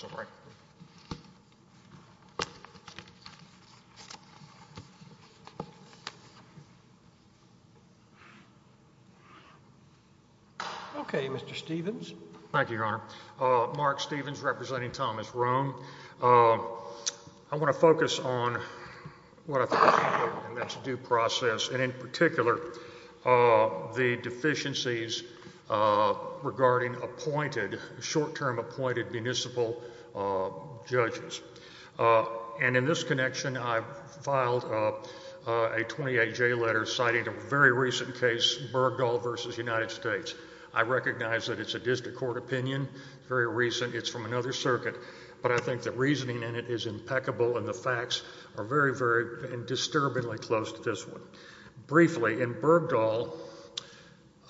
Okay, Mr. Stephens. Thank you, Your Honor. Mark Stephens, representing Thomas Rhone. I want to focus on what I think is important in this due process, and in particular, the judges. And in this connection, I filed a 28-J letter citing a very recent case, Bergdahl v. United States. I recognize that it's a district court opinion, very recent, it's from another circuit, but I think the reasoning in it is impeccable and the facts are very, very disturbingly close to this one. Briefly, in Bergdahl,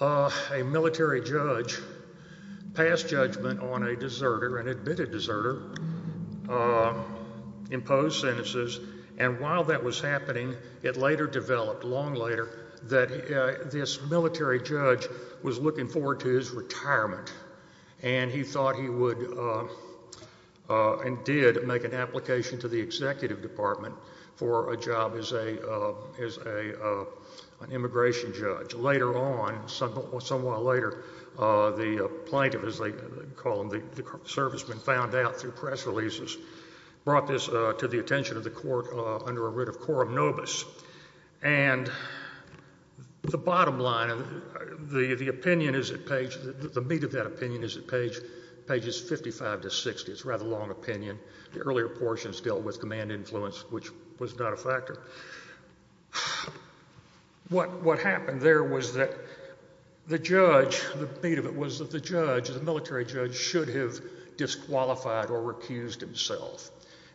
a military judge passed judgment on a deserter, an admitted deserter, imposed sentences, and while that was happening, it later developed, long later, that this military judge was looking forward to his retirement, and he thought he would, and did, make an application to the executive department for a job as a immigration judge. Later on, somewhat later, the plaintiff, as they call him, the serviceman, found out through press releases, brought this to the attention of the court under a writ of coram nobis. And the bottom line, the opinion is at page, the meat of that opinion is at page 55 to 60. It's a rather long opinion. The earlier portions dealt with man influence, which was not a factor. What happened there was that the judge, the meat of it was that the judge, the military judge, should have disqualified or recused himself,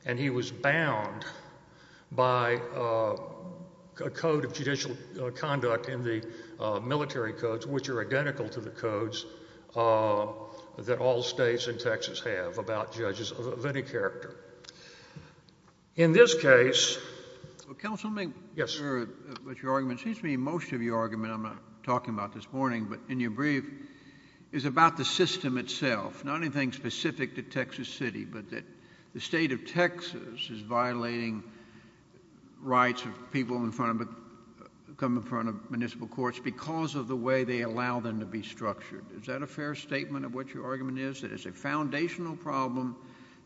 and he was bound by a code of judicial conduct in the military codes, which are identical to the codes that all states in Texas have about judges of any character. In this case... Well, counsel, let me... Yes.... what your argument... it seems to me most of your argument I'm not talking about this morning, but in your brief, is about the system itself, not anything specific to Texas City, but that the state of Texas is violating rights of people in front of, come of the way they allow them to be structured. Is that a fair statement of what your argument is, that it's a foundational problem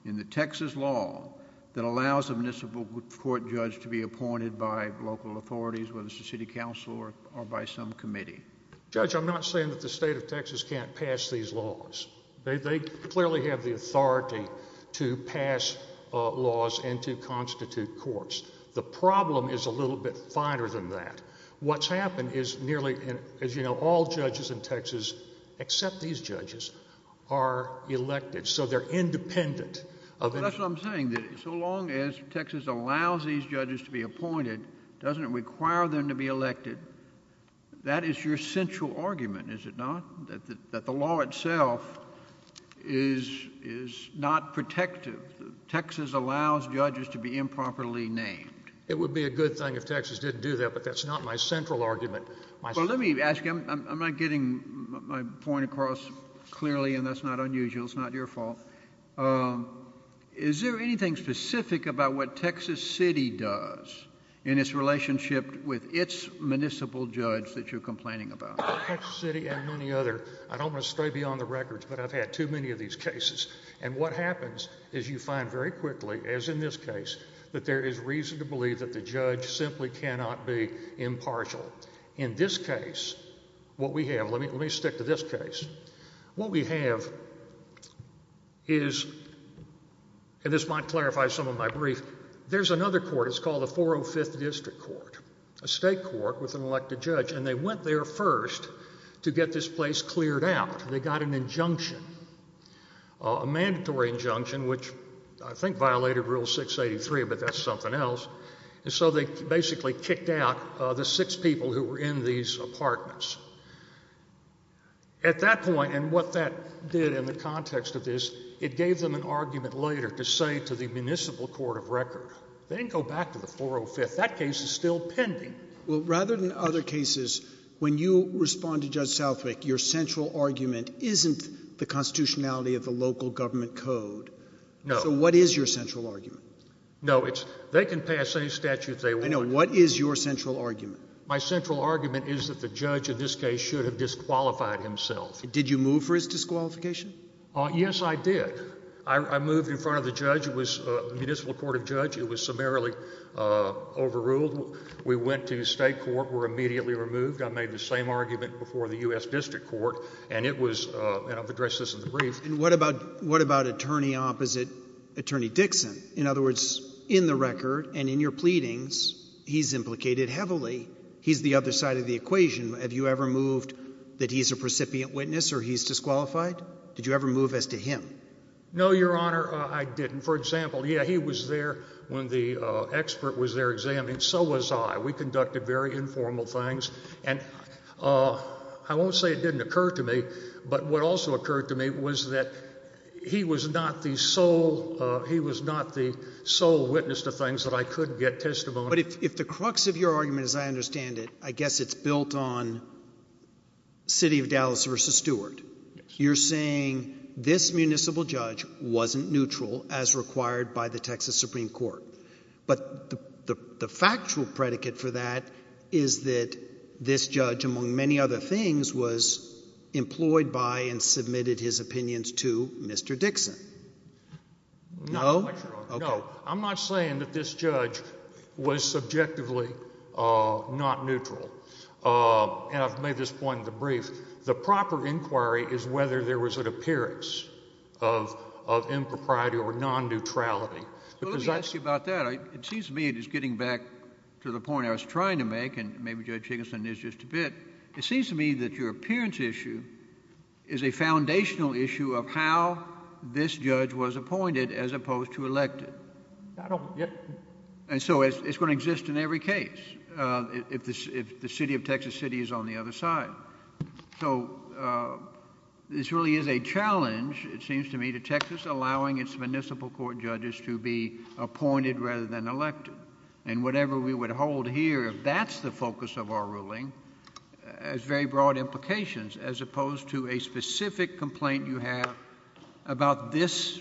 in the Texas law that allows a municipal court judge to be appointed by local authorities, whether it's the city council or by some committee? Judge, I'm not saying that the state of Texas can't pass these laws. They clearly have the authority to pass laws and to constitute courts. The problem is a little bit finer than that. What's happened is nearly, as you know, all judges in Texas, except these judges, are elected, so they're independent of... That's what I'm saying, that so long as Texas allows these judges to be appointed, doesn't it require them to be elected? That is your central argument, is it not? That the law itself is not protective. Texas allows judges to be improperly named. It would be a good thing if Texas didn't do that, but that's not my central argument. Well, let me ask you, I'm not getting my point across clearly, and that's not unusual. It's not your fault. Is there anything specific about what Texas City does in its relationship with its municipal judge that you're complaining about? Well, Texas City and any other, I don't want to stray beyond the records, but I've had too many of these cases. And what happens is you find very quickly, as in this case, that there is reason to believe that the judge simply cannot be impartial. In this case, what we have, let me stick to this case, what we have is, and this might clarify some of my brief, there's another court, it's called the 405th District Court, a state court with an elected judge, and they went there first to get this place cleared out. They got an else. And so they basically kicked out the six people who were in these apartments. At that point, and what that did in the context of this, it gave them an argument later to say to the municipal court of record, they didn't go back to the 405th. That case is still pending. Well, rather than other cases, when you respond to Judge Southwick, your central argument isn't the constitutionality of the local government code. No. So what is your central argument? No, it's they can pass any statute they want. I know. What is your central argument? My central argument is that the judge, in this case, should have disqualified himself. Did you move for his disqualification? Yes, I did. I moved in front of the judge. It was a municipal court of judge. It was summarily overruled. We went to state court, were immediately removed. I made the same argument before the U.S. District Court, and it was, and I've addressed this in the brief. What about attorney opposite Attorney Dixon? In other words, in the record and in your pleadings, he's implicated heavily. He's the other side of the equation. Have you ever moved that he's a precipient witness or he's disqualified? Did you ever move as to him? No, Your Honor, I didn't. For example, yeah, he was there when the expert was there examining. So was I. We conducted very informal things. I won't say it didn't occur to me, but what also occurred to me was that he was not the sole witness to things that I could get testimony. But if the crux of your argument, as I understand it, I guess it's built on city of Dallas versus Stewart. You're saying this municipal judge wasn't neutral as required by the Texas Supreme Court. But the factual predicate for that is that this judge, among many other things, was employed by and submitted his opinions to Mr. Dixon. No. No. I'm not saying that this judge was subjectively not neutral. And I've made this point in the brief. The proper inquiry is whether there was an appearance of impropriety or non-neutrality. Let me ask you about that. It seems to me, just getting back to the point I was making just a bit, it seems to me that your appearance issue is a foundational issue of how this judge was appointed as opposed to elected. And so it's going to exist in every case if the city of Texas City is on the other side. So this really is a challenge, it seems to me, to Texas allowing its municipal court judges to be appointed rather than elected. And whatever we would hold here, if that's the focus of our ruling, has very broad implications as opposed to a specific complaint you have about this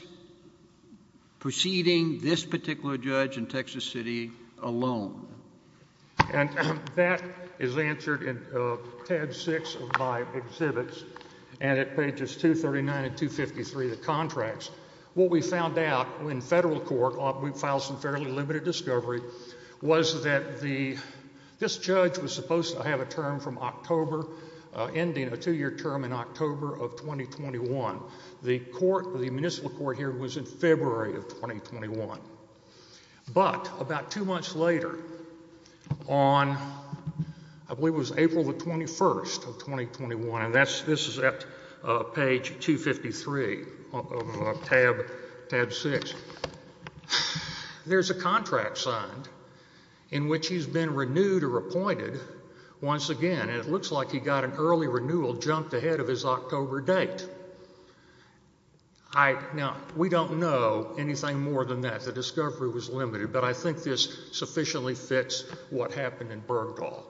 proceeding, this particular judge in Texas City alone. And that is answered in tab six of my exhibits and at pages 239 and 253 of the contracts. What we found out in federal court, we filed some fairly limited discovery, was that this judge was supposed to have a term from October, ending a two-year term in October of 2021. The court, the municipal court here, was in February of 2021. But about two months later on, I believe it was April the 21st of 2021, and this is at page 253 of tab six, there's a contract signed in which he's been renewed or appointed once again. And it looks like he got an early renewal jumped ahead of his October date. Now, we don't know anything more than that. The discovery was limited. But I think this sufficiently fits what happened in Bergdahl.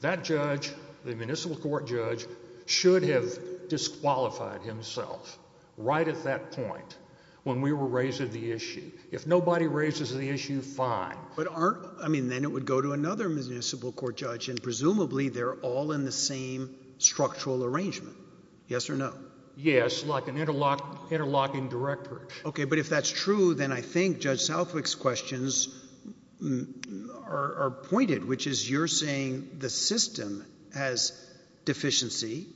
That judge, the municipal court judge, should have disqualified himself right at that point when we were raising the issue. If nobody raises the issue, fine. But aren't, I mean, then it would go to another municipal court judge and presumably they're all in the same structural arrangement. Yes or no? Yes, like an interlocking director. Okay, but if that's true, then I think Judge Southwick's questions are pointed, which is you're saying the system has deficiency.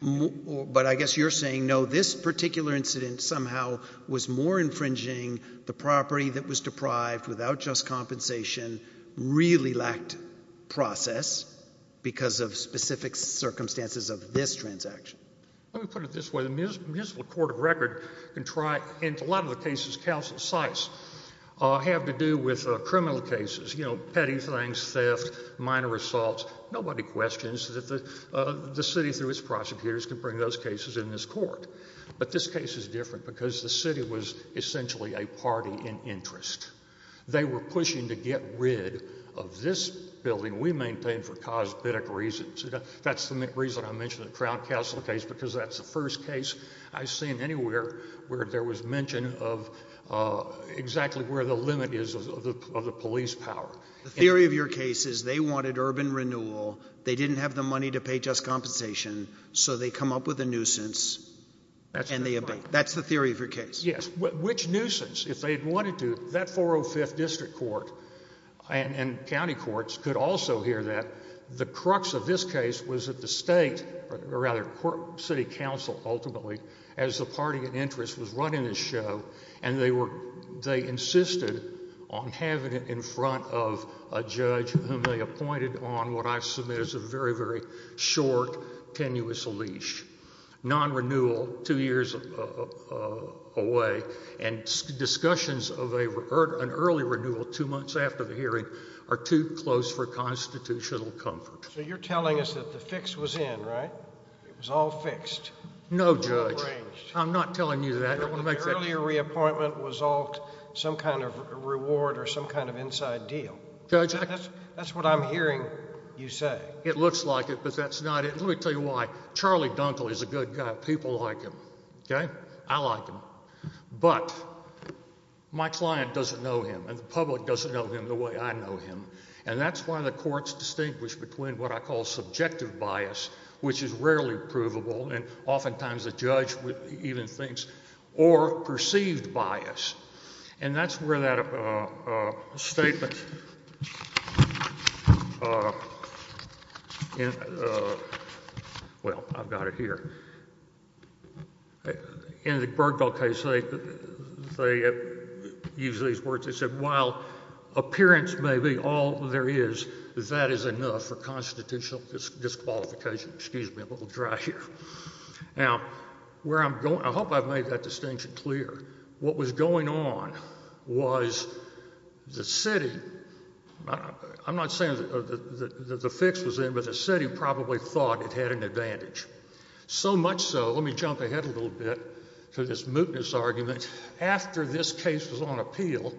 But I guess you're saying, no, this particular incident somehow was more infringing the property that was deprived without just compensation, really lacked process because of specific circumstances of this transaction. Let me put it this way. The municipal court of record can try, in a lot of the cases, counsel sites have to do with criminal cases, you know, petty things, theft, minor assaults. Nobody questions that the city through its prosecutors can bring those cases in this court. But this case is different because the city was essentially a party in interest. They were pushing to get rid of this building we maintain for cosmetic reasons. That's the reason I mentioned the Crown Counsel case because that's the first case I've seen anywhere where there was mention of exactly where the limit is of the police power. The theory of your case is they wanted urban renewal. They didn't have the money to pay just compensation, so they come up with a nuisance and they obey. That's the theory of your case? Yes. Which nuisance? If they'd wanted to, that 405th District Court and county courts could also hear that. The crux of this case was that the state, or rather city council, ultimately, as the party in interest, was running this show and they insisted on having it in front of a judge whom they appointed on what I've submitted as a very, very short, tenuous leash. Non-renewal, two years away, and discussions of an early renewal two months after the hearing are too close for constitutional comfort. So you're telling us that the fix was in, right? It was all fixed? No, Judge. I'm not telling you that. The earlier reappointment was all some kind of reward or some kind of inside deal. That's what I'm hearing you say. It looks like it, but that's not it. Let me tell you why. Charlie Dunkle is a good guy. People like him, okay? I like him, but my client doesn't know him, and the public doesn't know him the way I know him, and that's why the courts distinguish between what I call subjective bias, which is rarely provable, and oftentimes the judge even thinks, or perceived bias, and that's where that statement, well, I've got it here. In the Bergdahl case, they use these words. They said, while appearance may be all there is, that is enough for constitutional disqualification. Excuse me, a little dry here. Now, where I'm going, I hope I've made that distinction clear. What was going on was the city, I'm not saying that the fix was in, but the city probably thought it had an advantage. So much so, let me jump ahead a little bit to this mootness argument. After this case was on appeal,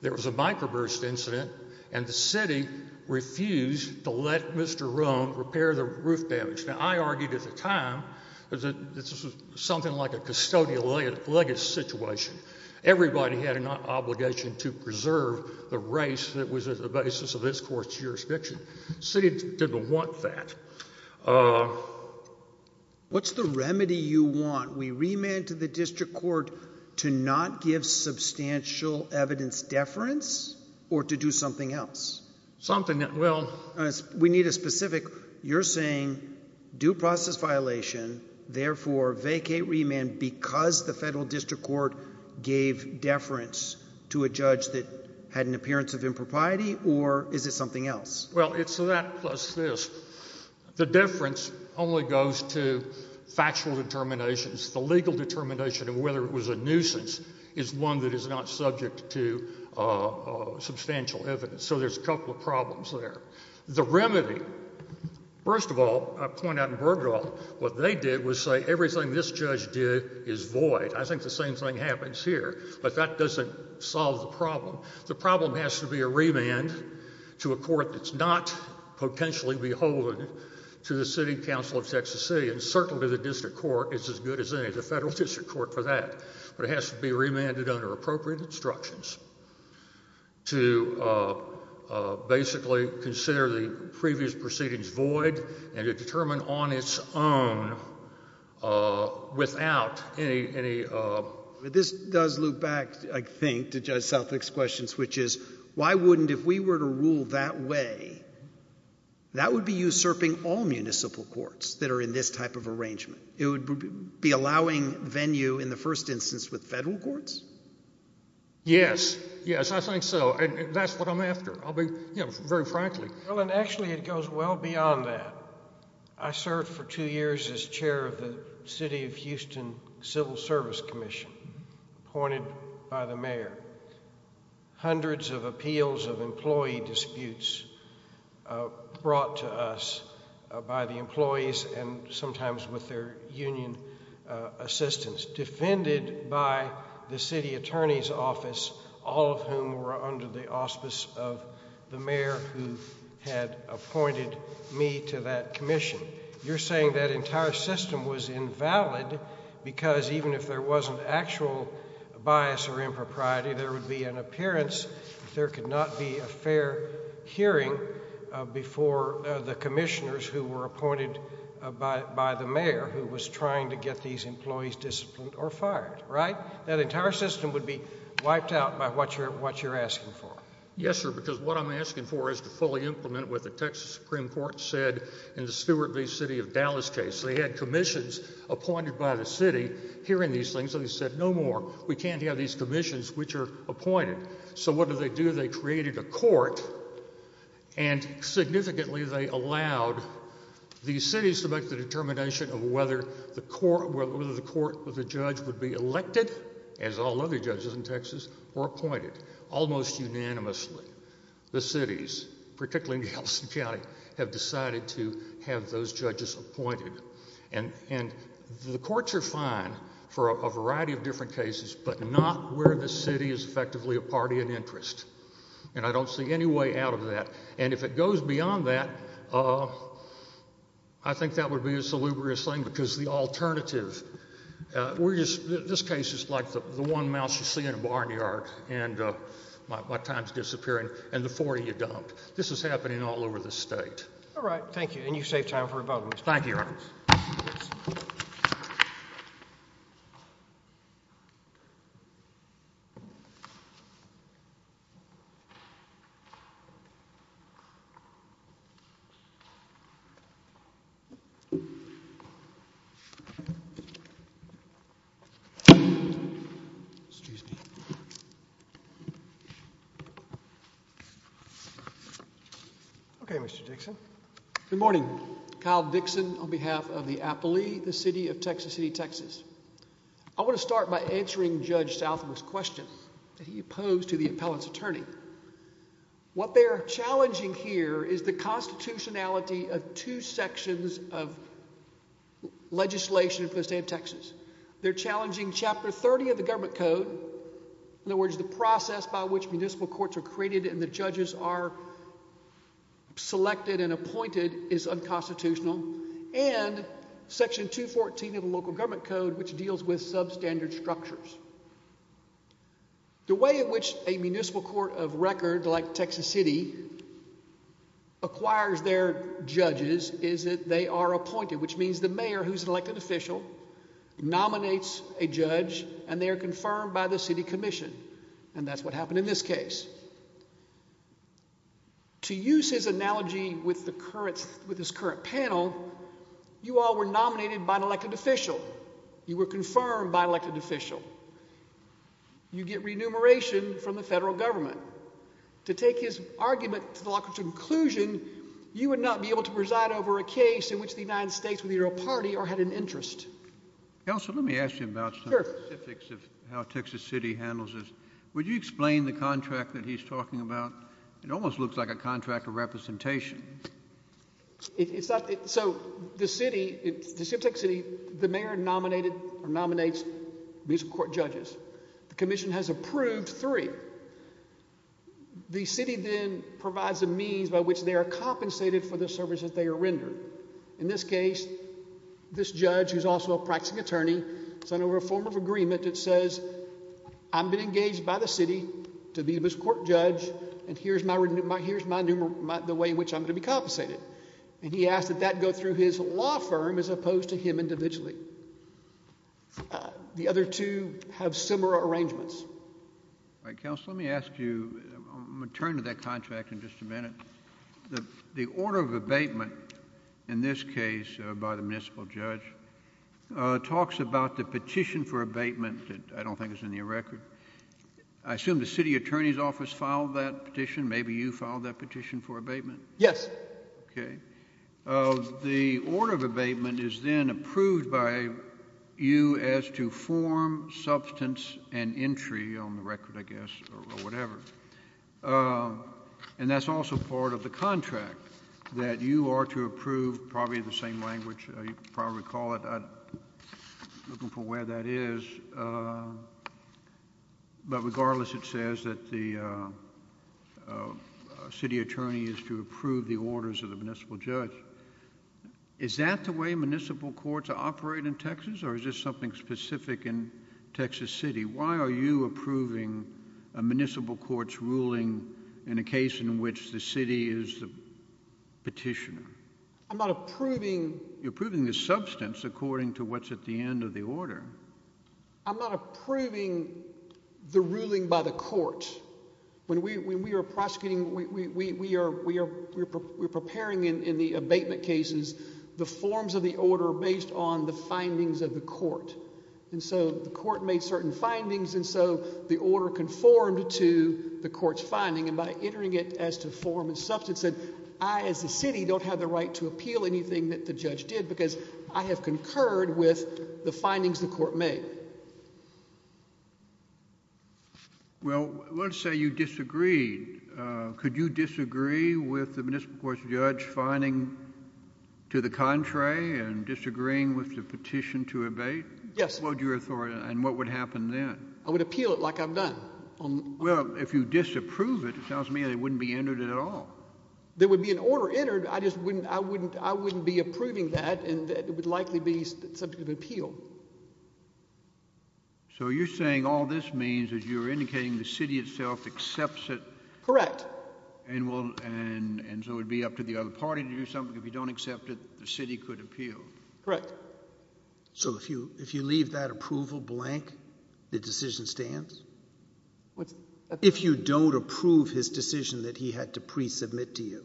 there was a microburst incident, and the city refused to let Mr. Rome repair the roof damage. Now, I argued at the time that this was something like a custodial legacy situation. Everybody had an obligation to preserve the race that was at the basis of this court's jurisdiction. The city didn't want that. What's the remedy you want? We remand to the district court to not give substantial evidence deference or to do something else? Something that, well... We need a specific, you're saying due process violation, therefore vacate remand because the federal district court gave deference to a judge that had an appearance of impropriety, or is it something else? Well, it's that plus this. The deference only goes to factual determinations. The legal determination of whether it was a nuisance is one that is not subject to substantial evidence. So there's a couple of problems there. The remedy, first of all, I point out in Bergdorf, what they did was say everything this judge did is void. I think the same thing happens here, but that doesn't solve the problem. The problem has to be a remand to a court that's not potentially beholden to the City Council of Texas City, and certainly the district court is as good as any. The federal district court for that, but it has to be remanded under appropriate instructions to basically consider the previous proceedings void and to determine on its own without any... This does loop back, I think, to Judge Southwick's questions, which is, why wouldn't, if we were to rule that way, that would be usurping all municipal courts that are in this type of arrangement? It would be allowing venue in the first instance with federal courts? Yes, yes, I think so, and that's what I'm after. I'll be, you know, very frankly. Actually, it goes well beyond that. I served for two years as chair of the City of Houston Civil Service Commission, appointed by the mayor. Hundreds of appeals of employee disputes brought to us by the employees and sometimes with their union assistants, defended by the city attorney's office, all of whom were under the auspice of the mayor who had appointed me to that commission. You're saying that entire system was invalid because even if there wasn't actual bias or impropriety, there would be an appearance, there could not be a fair hearing before the commissioners who were appointed by the mayor, who was trying to get these employees disciplined or fired, right? That entire system would be invalid. Yes, sir, because what I'm asking for is to fully implement what the Texas Supreme Court said in the Stewart v. City of Dallas case. They had commissions appointed by the city hearing these things, so they said, no more. We can't have these commissions which are appointed. So what did they do? They created a court, and significantly they allowed these cities to make the determination of whether the court, whether the judge would be elected, as all other judges in Texas, were appointed almost unanimously. The cities, particularly in Galveston County, have decided to have those judges appointed. And the courts are fine for a variety of different cases, but not where the city is effectively a party in interest. And I don't see any way out of that. And if it goes beyond that, I think that would be a salubrious thing because the alternative we're just, this case is like the one mouse you see in a barnyard and my time's disappearing, and the four you dumped. This is happening all over the state. All right, thank you, and you saved time for a vote. Thank you, Your Honor. Okay, Mr. Dixon. Good morning. Kyle Dixon on behalf of the Appellee, the City of Texas City, Texas. I want to start by answering Judge Southam's question that he posed to the appellant's attorney. What they're challenging here is the constitutionality of two sections of legislation for the state of Texas. They're challenging chapter 30 of the government code, in other words, the process by which municipal courts are created and the judges are selected and appointed is unconstitutional, and section 214 of the local government code, which deals with substandard structures. The way in which a municipal court of record, like Texas is, is that it nominates an elected official, nominates a judge, and they are confirmed by the city commission, and that's what happened in this case. To use his analogy with the current, with this current panel, you all were nominated by an elected official. You were confirmed by an elected official. You get remuneration from the federal government. To take his argument to the conclusion, you would not be able to preside over a case in which the United States were the official judge. It's not in your interest. Counselor, let me ask you about specifics of how Texas City handles this. Would you explain the contract that he's talking about? It almost looks like a contract of representation. It's not. So the city, the city, the mayor nominated or nominates municipal court judges. The commission has approved three. The city then provides a means by which they are compensated for the services they are rendered. In this case, this judge, who's also a practicing attorney, sent over a form of agreement that says I've been engaged by the city to be this court judge, and here's my, here's my, the way in which I'm going to be compensated, and he asked that that go through his law firm as opposed to him individually. The other two have similar arrangements. All right, counsel, let me ask you, I'm going to turn to that contract in just a minute. The order of abatement in this case by the municipal judge talks about the petition for abatement that I don't think is in your record. I assume the city attorney's office filed that petition. Maybe you filed that petition for abatement. Yes. Okay. The order of abatement is then approved by you as to form substance and whatever, and that's also part of the contract that you are to approve, probably the same language you probably call it. I'm looking for where that is, but regardless, it says that the city attorney is to approve the orders of the municipal judge. Is that the way municipal courts operate in Texas, or is this something specific in municipal court's ruling in a case in which the city is the petitioner? I'm not approving. You're approving the substance according to what's at the end of the order. I'm not approving the ruling by the court. When we are prosecuting, we are preparing in the abatement cases the forms of the order based on the findings of the court, and so the court made certain findings, and so the order conformed to the court's finding, and by entering it as to form and substance, I as a city don't have the right to appeal anything that the judge did because I have concurred with the findings the court made. Well, let's say you disagreed. Could you disagree with the municipal court's judge finding to the contrary and disagreeing with the petition to abate? Yes. What would and what would happen then? I would appeal it like I've done. Well, if you disapprove it, it sounds to me that it wouldn't be entered at all. There would be an order entered. I just wouldn't, I wouldn't, I wouldn't be approving that, and it would likely be subject of appeal. So you're saying all this means is you're indicating the city itself accepts it? Correct. And so it'd be up to the other party to do something. If you don't accept it, the city could appeal. Correct. So if you leave that approval blank, the decision stands? If you don't approve his decision that he had to pre-submit to you?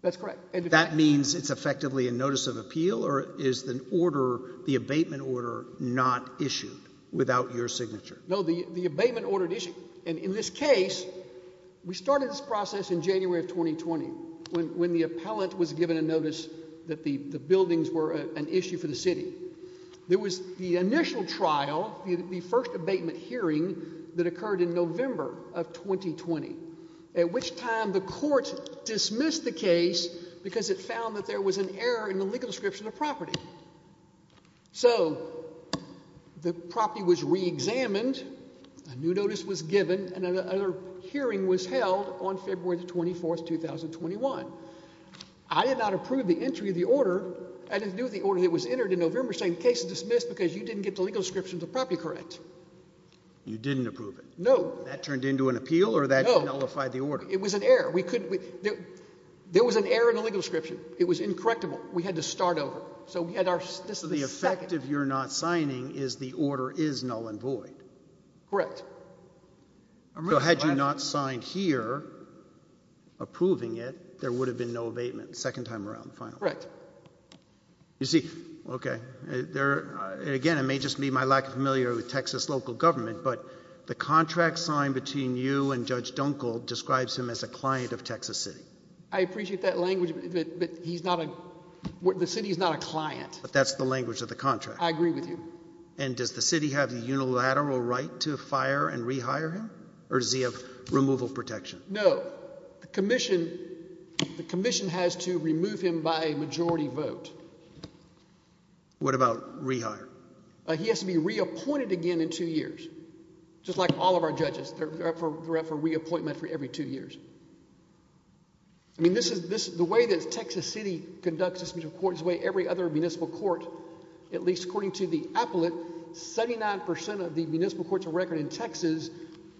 That's correct. That means it's effectively a notice of appeal, or is the order, the abatement order, not issued without your signature? No, the abatement order is issued, and in this case, we started this process in January of 2020, when the appellant was given a notice that the buildings were an issue for the city. There was the initial trial, the first abatement hearing that occurred in November of 2020, at which time the court dismissed the case because it found that there was an error in the legal description of property. So the property was re-examined, a new notice was given, and another hearing was held on February the 24th, 2021. I did not approve the entry of the order. I didn't do the order that was entered in November saying the case is dismissed because you didn't get the legal description of the property correct. You didn't approve it? No. That turned into an appeal, or that nullified the order? It was an error. There was an error in the legal description. It was incorrectable. We had to start Correct. So had you not signed here approving it, there would have been no abatement the second time around? Correct. You see, okay, there again, it may just be my lack of familiarity with Texas local government, but the contract signed between you and Judge Dunkel describes him as a client of Texas City. I appreciate that language, but he's not a, the city is not a client. But that's the unilateral right to fire and rehire him? Or does he have removal protection? No. The commission, the commission has to remove him by a majority vote. What about rehire? He has to be reappointed again in two years. Just like all of our judges, they're up for reappointment for every two years. I mean, this is, the way that Texas City conducts this court is the way every other municipal court, at least according to the appellate, 79 percent of the municipal courts of record in Texas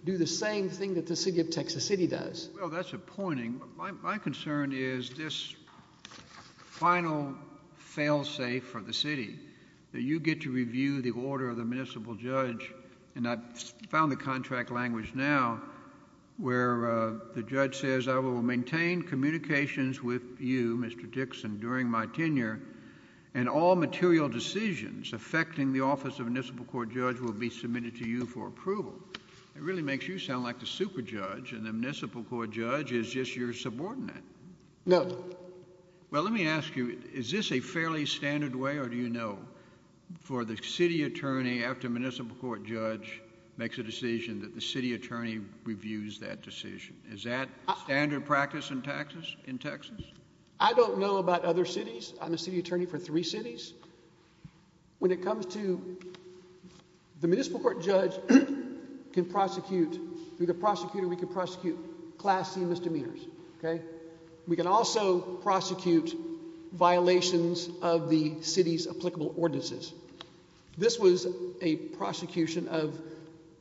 do the same thing that the city of Texas City does. Well, that's appointing. My concern is this final fail-safe for the city, that you get to review the order of the municipal judge, and I found the contract language now, where the judge says, I will maintain communications with you, Mr. Dixon, during my tenure, and all material decisions affecting the office of municipal court judge will be submitted to you for approval. It really makes you sound like the super judge, and the municipal court judge is just your subordinate. No. Well, let me ask you, is this a fairly standard way, or do you know, for the city attorney after municipal court judge makes a decision that the city attorney reviews that decision? Is that standard practice in Texas? I don't know about other cities. I'm a city attorney for three cities. When it comes to, the municipal court judge can prosecute, through the prosecutor, we can prosecute class C misdemeanors, okay? We can also prosecute violations of the city's applicable ordinances. This was a prosecution of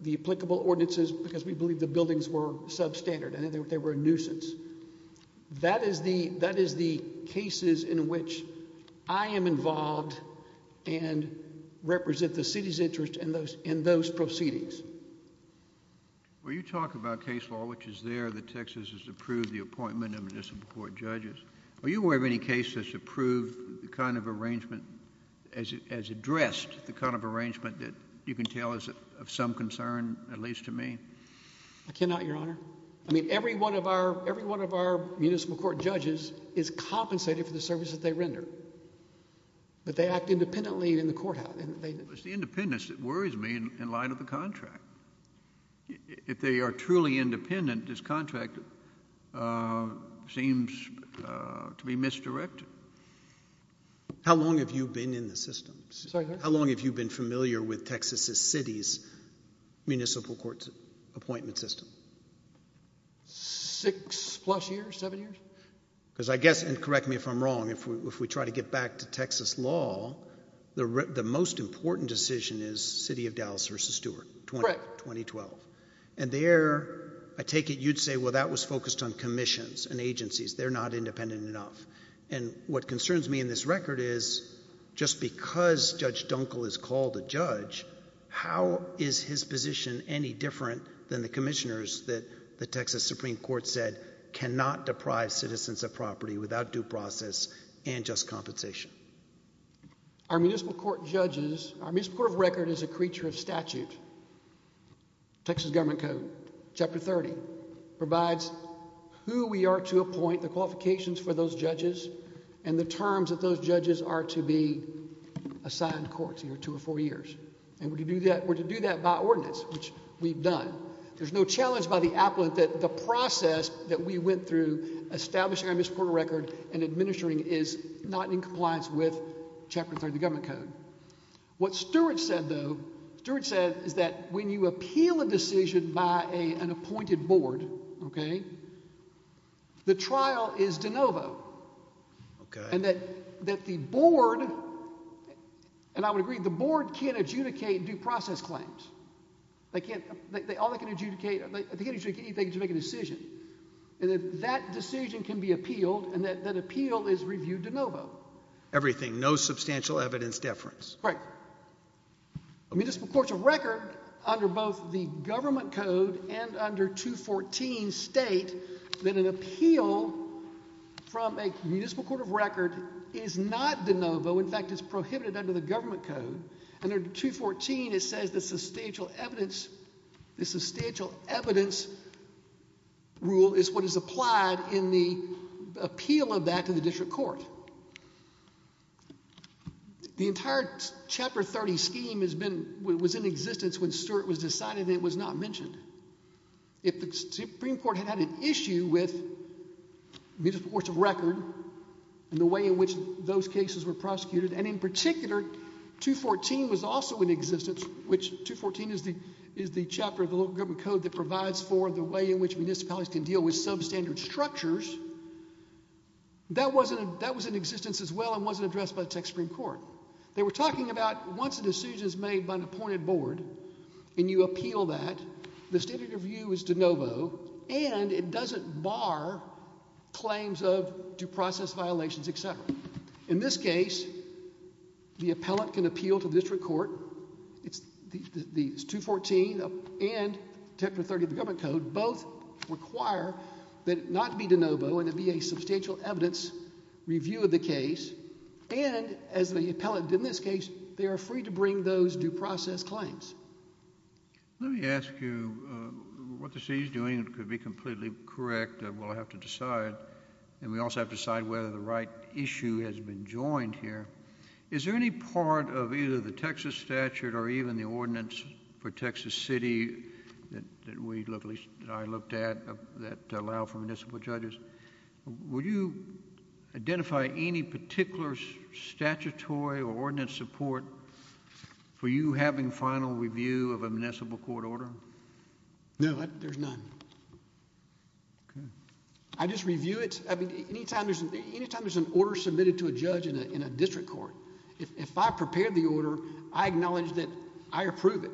the applicable ordinances because we believe the cases in which I am involved and represent the city's interest in those proceedings. Well, you talk about case law, which is there, that Texas has approved the appointment of municipal court judges. Are you aware of any case that's approved the kind of arrangement, as addressed, the kind of arrangement that you can tell is of some concern, at least to me? I cannot, your honor. I mean, every one of our, every one of our municipal court judges is compensated for the service that they render, but they act independently in the courthouse. It's the independence that worries me in light of the contract. If they are truly independent, this contract seems to be misdirected. How long have you been in the system? How long have you been familiar with Texas's cities municipal court's appointment system? Six plus years, seven years? Because I guess, and correct me if I'm wrong, if we try to get back to Texas law, the most important decision is city of Dallas versus Stewart. Correct. 2012. And there, I take it you'd say, well, that was focused on commissions and agencies. They're not independent enough. And what concerns me in this record is just because Judge Dunkel is called a judge, how is his position any different than the commissioners that the Texas Supreme Court said cannot deprive citizens of property without due process and just compensation? Our municipal court judges, our municipal court of record is a creature of statute. Texas government code chapter 30 provides who we are to appoint the qualifications for those judges and the terms of those judges are to be assigned courts, you know, two or four years. And we're to do that, we're to do that by ordinance, which we've done. There's no challenge by the appellate that the process that we went through establishing our municipal court of record and administering is not in compliance with chapter 30 of the government code. What Stewart said though, Stewart said is that when you appeal a decision by a, an appointed board, okay, the trial is de novo. Okay. And that, that the board, and I would agree the board can't adjudicate due process claims. They can't, all they can adjudicate, they can't adjudicate anything, they can just make a decision. And that decision can be appealed and that appeal is reviewed de novo. Everything, no substantial evidence deference. Right. Municipal court of record under both the government code and under 214 state that an appeal from a municipal court of record is not de novo. In fact, it's prohibited under the government code and under 214, it says the substantial evidence, the substantial evidence rule is what is applied in the appeal of that to the district court. So the entire chapter 30 scheme has been, was in existence when Stewart was decided that it was not mentioned. If the Supreme Court had had an issue with municipal court of record and the way in which those cases were prosecuted, and in particular, 214 was also in existence, which 214 is the, is the chapter of the local government code that provides for the way in which municipalities can deal with substandard structures. That wasn't, that was in existence as well and wasn't addressed by the Texas Supreme Court. They were talking about once a decision is made by an appointed board and you appeal that, the standard of view is de novo and it doesn't bar claims of due process violations, et cetera. In this case, the appellate can appeal to the district court. It's the 214 and chapter 30 government code. Both require that it not be de novo and it be a substantial evidence review of the case. And as the appellate did in this case, they are free to bring those due process claims. Let me ask you what the city is doing. It could be completely correct. We'll have to decide and we also have to decide whether the right issue has been joined here. Is there any part of either the Texas statute or even the ordinance for Texas City that we looked, at least I looked at, that allow for municipal judges? Would you identify any particular statutory or ordinance support for you having final review of a municipal court order? No, there's none. I just review it. I mean, anytime there's, anytime there's an order submitted to a judge in a case, I prepare the order. I acknowledge that I approve it.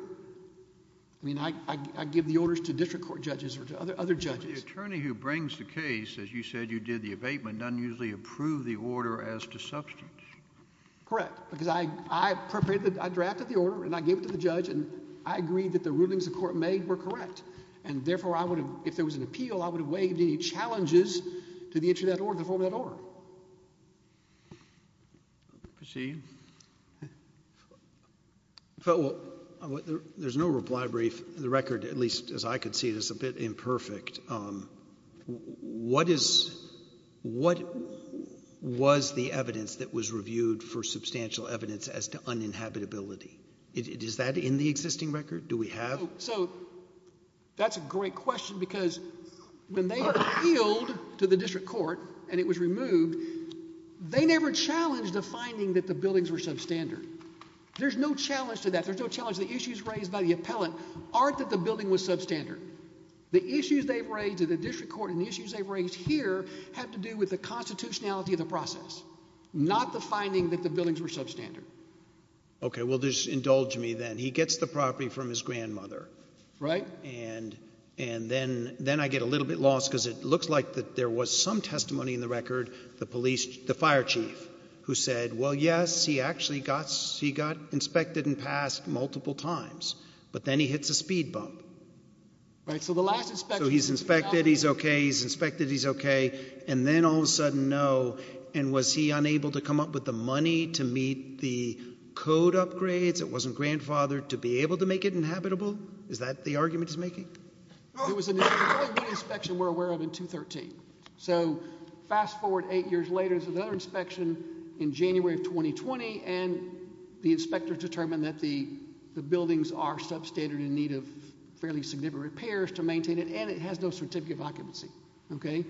I mean, I give the orders to district court judges or to other judges. The attorney who brings the case, as you said, you did the abatement, doesn't usually approve the order as to substance. Correct. Because I prepared, I drafted the order and I gave it to the judge and I agreed that the rulings the court made were correct. And therefore, I would have, if there was an appeal, I would have waived any liability. Proceed. There's no reply brief. The record, at least as I could see it, is a bit imperfect. What is, what was the evidence that was reviewed for substantial evidence as to uninhabitability? Is that in the existing record? Do we have? So that's a great question because when they appealed to the district court and it was removed, they never challenged the finding that the buildings were substandard. There's no challenge to that. There's no challenge. The issues raised by the appellate aren't that the building was substandard. The issues they've raised at the district court and the issues they've raised here have to do with the constitutionality of the process, not the finding that the buildings were substandard. Okay. Well, just indulge me then. He gets the property from his grandmother. Right. And, and then, then I get a little bit lost because it looks like that there was some testimony in the record. The police, the fire chief who said, well, yes, he actually got, he got inspected and passed multiple times, but then he hits a speed bump. Right. So the last inspection, he's inspected. He's okay. He's inspected. He's okay. And then all of a sudden, no. And was he unable to come up with the money to meet the code upgrades? It wasn't grandfathered to be able to make it inhabitable. Is that the inspection we're aware of in two 13. So fast forward eight years later, there's another inspection in January of 2020. And the inspector determined that the buildings are substandard in need of fairly significant repairs to maintain it. And it has no certificate of occupancy. Okay.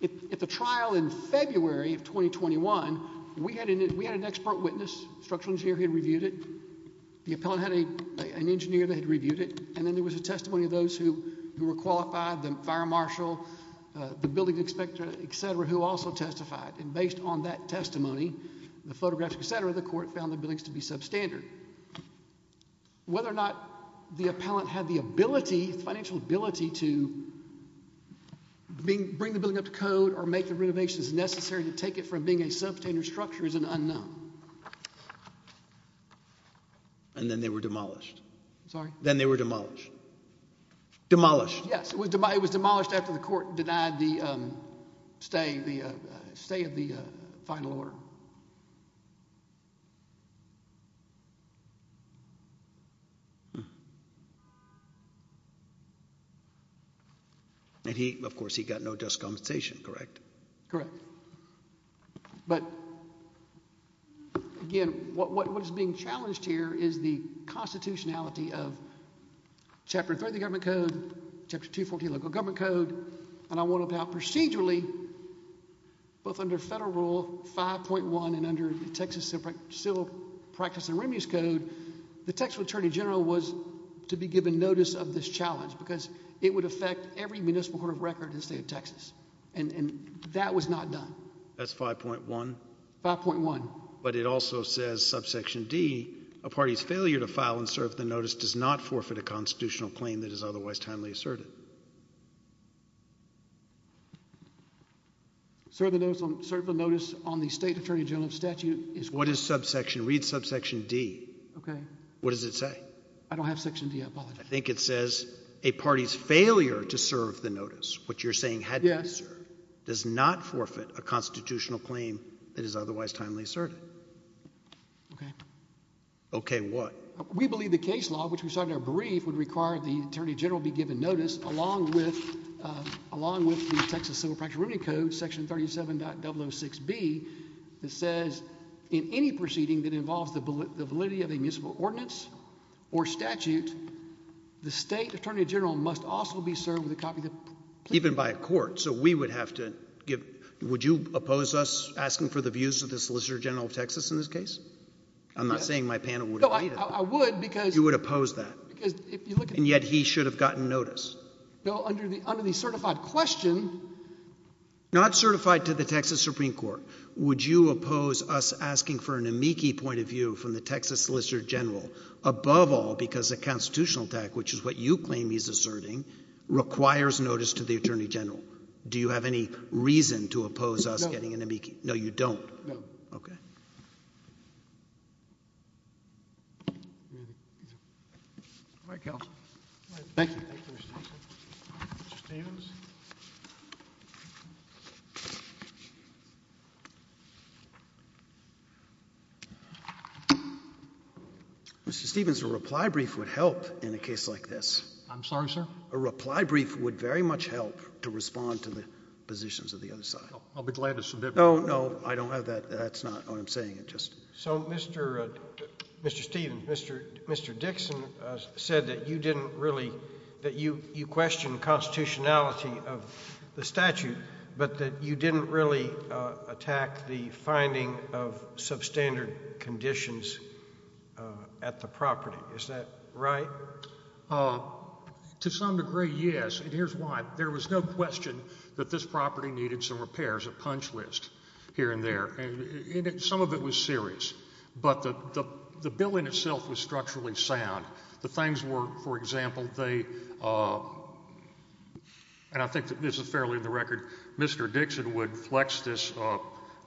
If the trial in February of 2021, we had an, we had an expert witness structural engineer, he had reviewed it. The appellate had a, an engineer that had reviewed it. And then there was a testimony of those who were qualified, the fire marshal, the building inspector, et cetera, who also testified. And based on that testimony, the photograph, et cetera, the court found the buildings to be substandard. Whether or not the appellant had the ability, financial ability to bring the building up to code or make the renovations necessary to take it from being a substandard structure is an unknown. And then they were demolished. Sorry. Then they were demolished. Demolished. Yes. It was demolished after the court denied the stay, the stay of the final order. And he, of course he got no just compensation, correct? Correct. But again, what was being chapter three of the government code, chapter two, 14 local government code. And I want to have procedurally both under federal rule 5.1 and under the Texas separate civil practice and remedies code, the textual attorney general was to be given notice of this challenge because it would affect every municipal court of record in the state of Texas. And that was not done. That's 5.1 5.1. But it also says subsection D a party's failure to file and serve the notice does not forfeit a constitutional claim that is otherwise timely asserted. Sir, the notice on the state attorney general of statute is what is subsection read subsection D. Okay. What does it say? I don't have section D. I think it says a party's failure to serve the notice. What you're saying had to be served does not forfeit a constitutional claim that is brief would require the attorney general be given notice along with along with the Texas civil practice remedy code section 37.006 B that says in any proceeding that involves the validity of a municipal ordinance or statute, the state attorney general must also be served with a copy of the even by a court. So we would have to give. Would you oppose us asking for the views of the solicitor general of Texas in this case? I'm not saying my panel would. I would you would oppose that. And yet he should have gotten notice. No, under the under the certified question, not certified to the Texas Supreme Court. Would you oppose us asking for an amici point of view from the Texas solicitor general above all because the constitutional attack, which is what you claim is asserting, requires notice to the attorney general. Do you have any reason to oppose us getting an amici? No, you don't. Okay. All right, Cal. Thank you. Mr. Stevens, a reply brief would help in a case like this. I'm sorry, sir. A reply brief would very much help to respond to the positions of the other side. I'll be glad to submit. No, no, I don't have that. That's not what I'm saying. It just so Mr. Mr. Stevens, Mr. Mr. Dixon said that you didn't really that you you question the constitutionality of the statute, but that you didn't really attack the finding of substandard conditions at the property. Is that right? To some degree, yes. And here's why. There was no question that this property needed some repairs, a punch list here and there, and some of it was serious, but the the building itself was structurally sound. The things were, for example, they and I think that this is fairly in the record, Mr. Dixon would flex this rail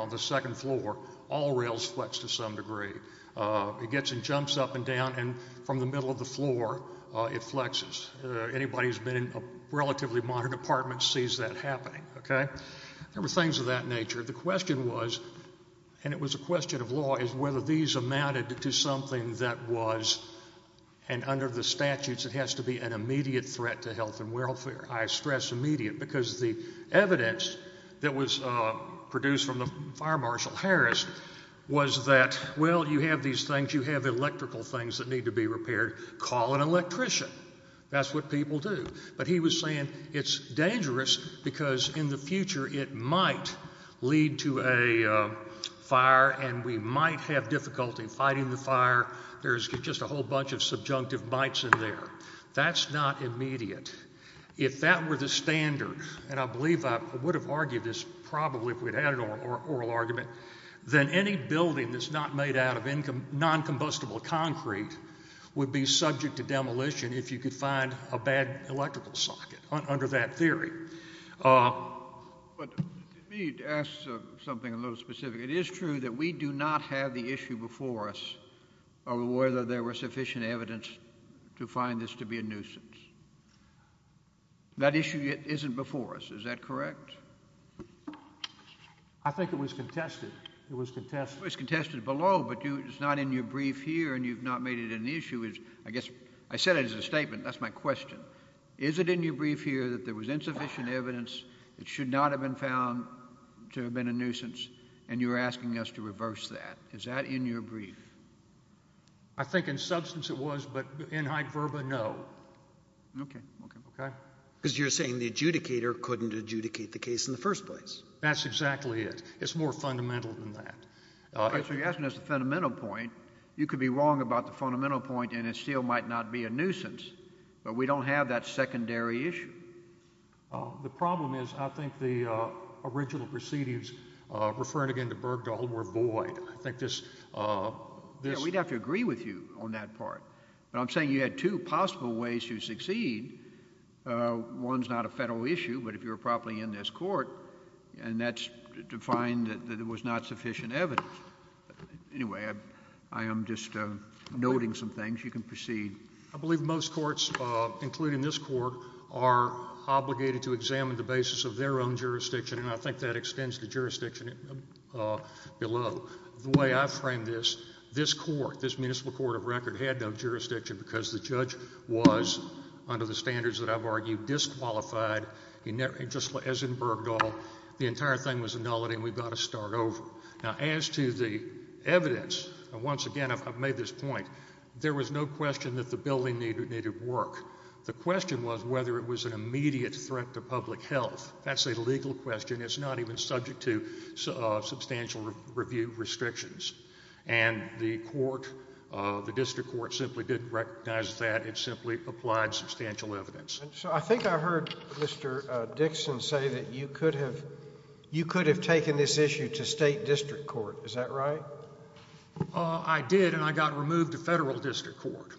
on the second floor. All rails flex to some degree. It gets and jumps up and down, and from the middle of the floor, it flexes. Anybody who's been in a okay, there were things of that nature. The question was, and it was a question of law, is whether these amounted to something that was, and under the statutes, it has to be an immediate threat to health and welfare. I stress immediate because the evidence that was produced from the fire marshal Harris was that, well, you have these things, you have electrical things that need to be repaired. Call an electrician. That's what people do. But he was saying it's dangerous because in the future, it might lead to a fire, and we might have difficulty fighting the fire. There's just a whole bunch of subjunctive bites in there. That's not immediate. If that were the standard, and I believe I would have argued this probably if we'd had an oral argument, then any building that's not made out of non-combustible concrete would be subject to demolition if you could find a bad electrical socket under that theory. But let me ask something a little specific. It is true that we do not have the issue before us of whether there were sufficient evidence to find this to be a nuisance. That issue isn't before us. Is that correct? I think it was contested. It was contested. It was contested below, but it's not in your brief. I said it as a statement. That's my question. Is it in your brief here that there was insufficient evidence, it should not have been found to have been a nuisance, and you're asking us to reverse that? Is that in your brief? I think in substance it was, but in high verba, no. Okay. Okay. Because you're saying the adjudicator couldn't adjudicate the case in the first place. That's exactly it. It's more fundamental than that. Okay. So you're asking us a fundamental point. You could be wrong about the fundamental point, and it still might not be a nuisance, but we don't have that secondary issue. The problem is I think the original proceedings, referring again to Bergdahl, were void. I think this— We'd have to agree with you on that part, but I'm saying you had two possible ways to succeed. One's not a federal issue, but if you're properly in this court, and that's to find that there was not sufficient evidence. Anyway, I am just noting some things. You can proceed. I believe most courts, including this court, are obligated to examine the basis of their own jurisdiction, and I think that extends to jurisdiction below. The way I frame this, this court, this municipal court of record, had no jurisdiction because the judge was, under the standards that I've argued, disqualified, just as in Bergdahl. The entire thing was a nullity, and we've got to start over. Now, as to the evidence, once again, I've made this point. There was no question that the building needed work. The question was whether it was an immediate threat to public health. That's a legal question. It's not even subject to substantial review restrictions, and the court, the district court, simply didn't recognize that. It simply applied substantial evidence. So, I think I heard Mr. Dixon say that you could have, you could have taken this issue to state district court. Is that right? I did, and I got removed to federal district court,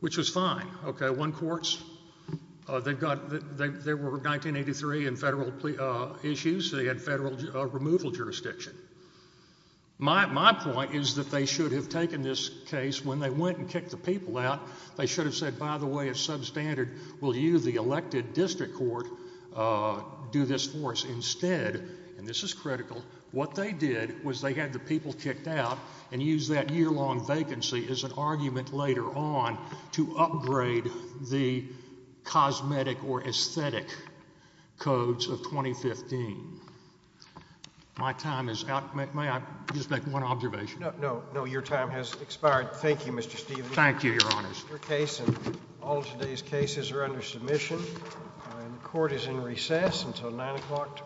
which was fine. Okay, one courts, they've got, they were 1983 in federal issues, they had federal removal jurisdiction. My point is that they should have taken this case when they went and kicked the people out. They should have said, by the way, it's substandard. Will you, the elected district court, do this for us? Instead, and this is critical, what they did was they had the people kicked out and used that year-long vacancy as an argument later on to upgrade the cosmetic or aesthetic codes of 2015. My time is out. May I just make one observation? No, no, your time has expired. Thank you, Mr. Stevens. Thank you, Your Honors. Your case and all today's cases are under submission, and the court is in recess until nine o'clock tomorrow.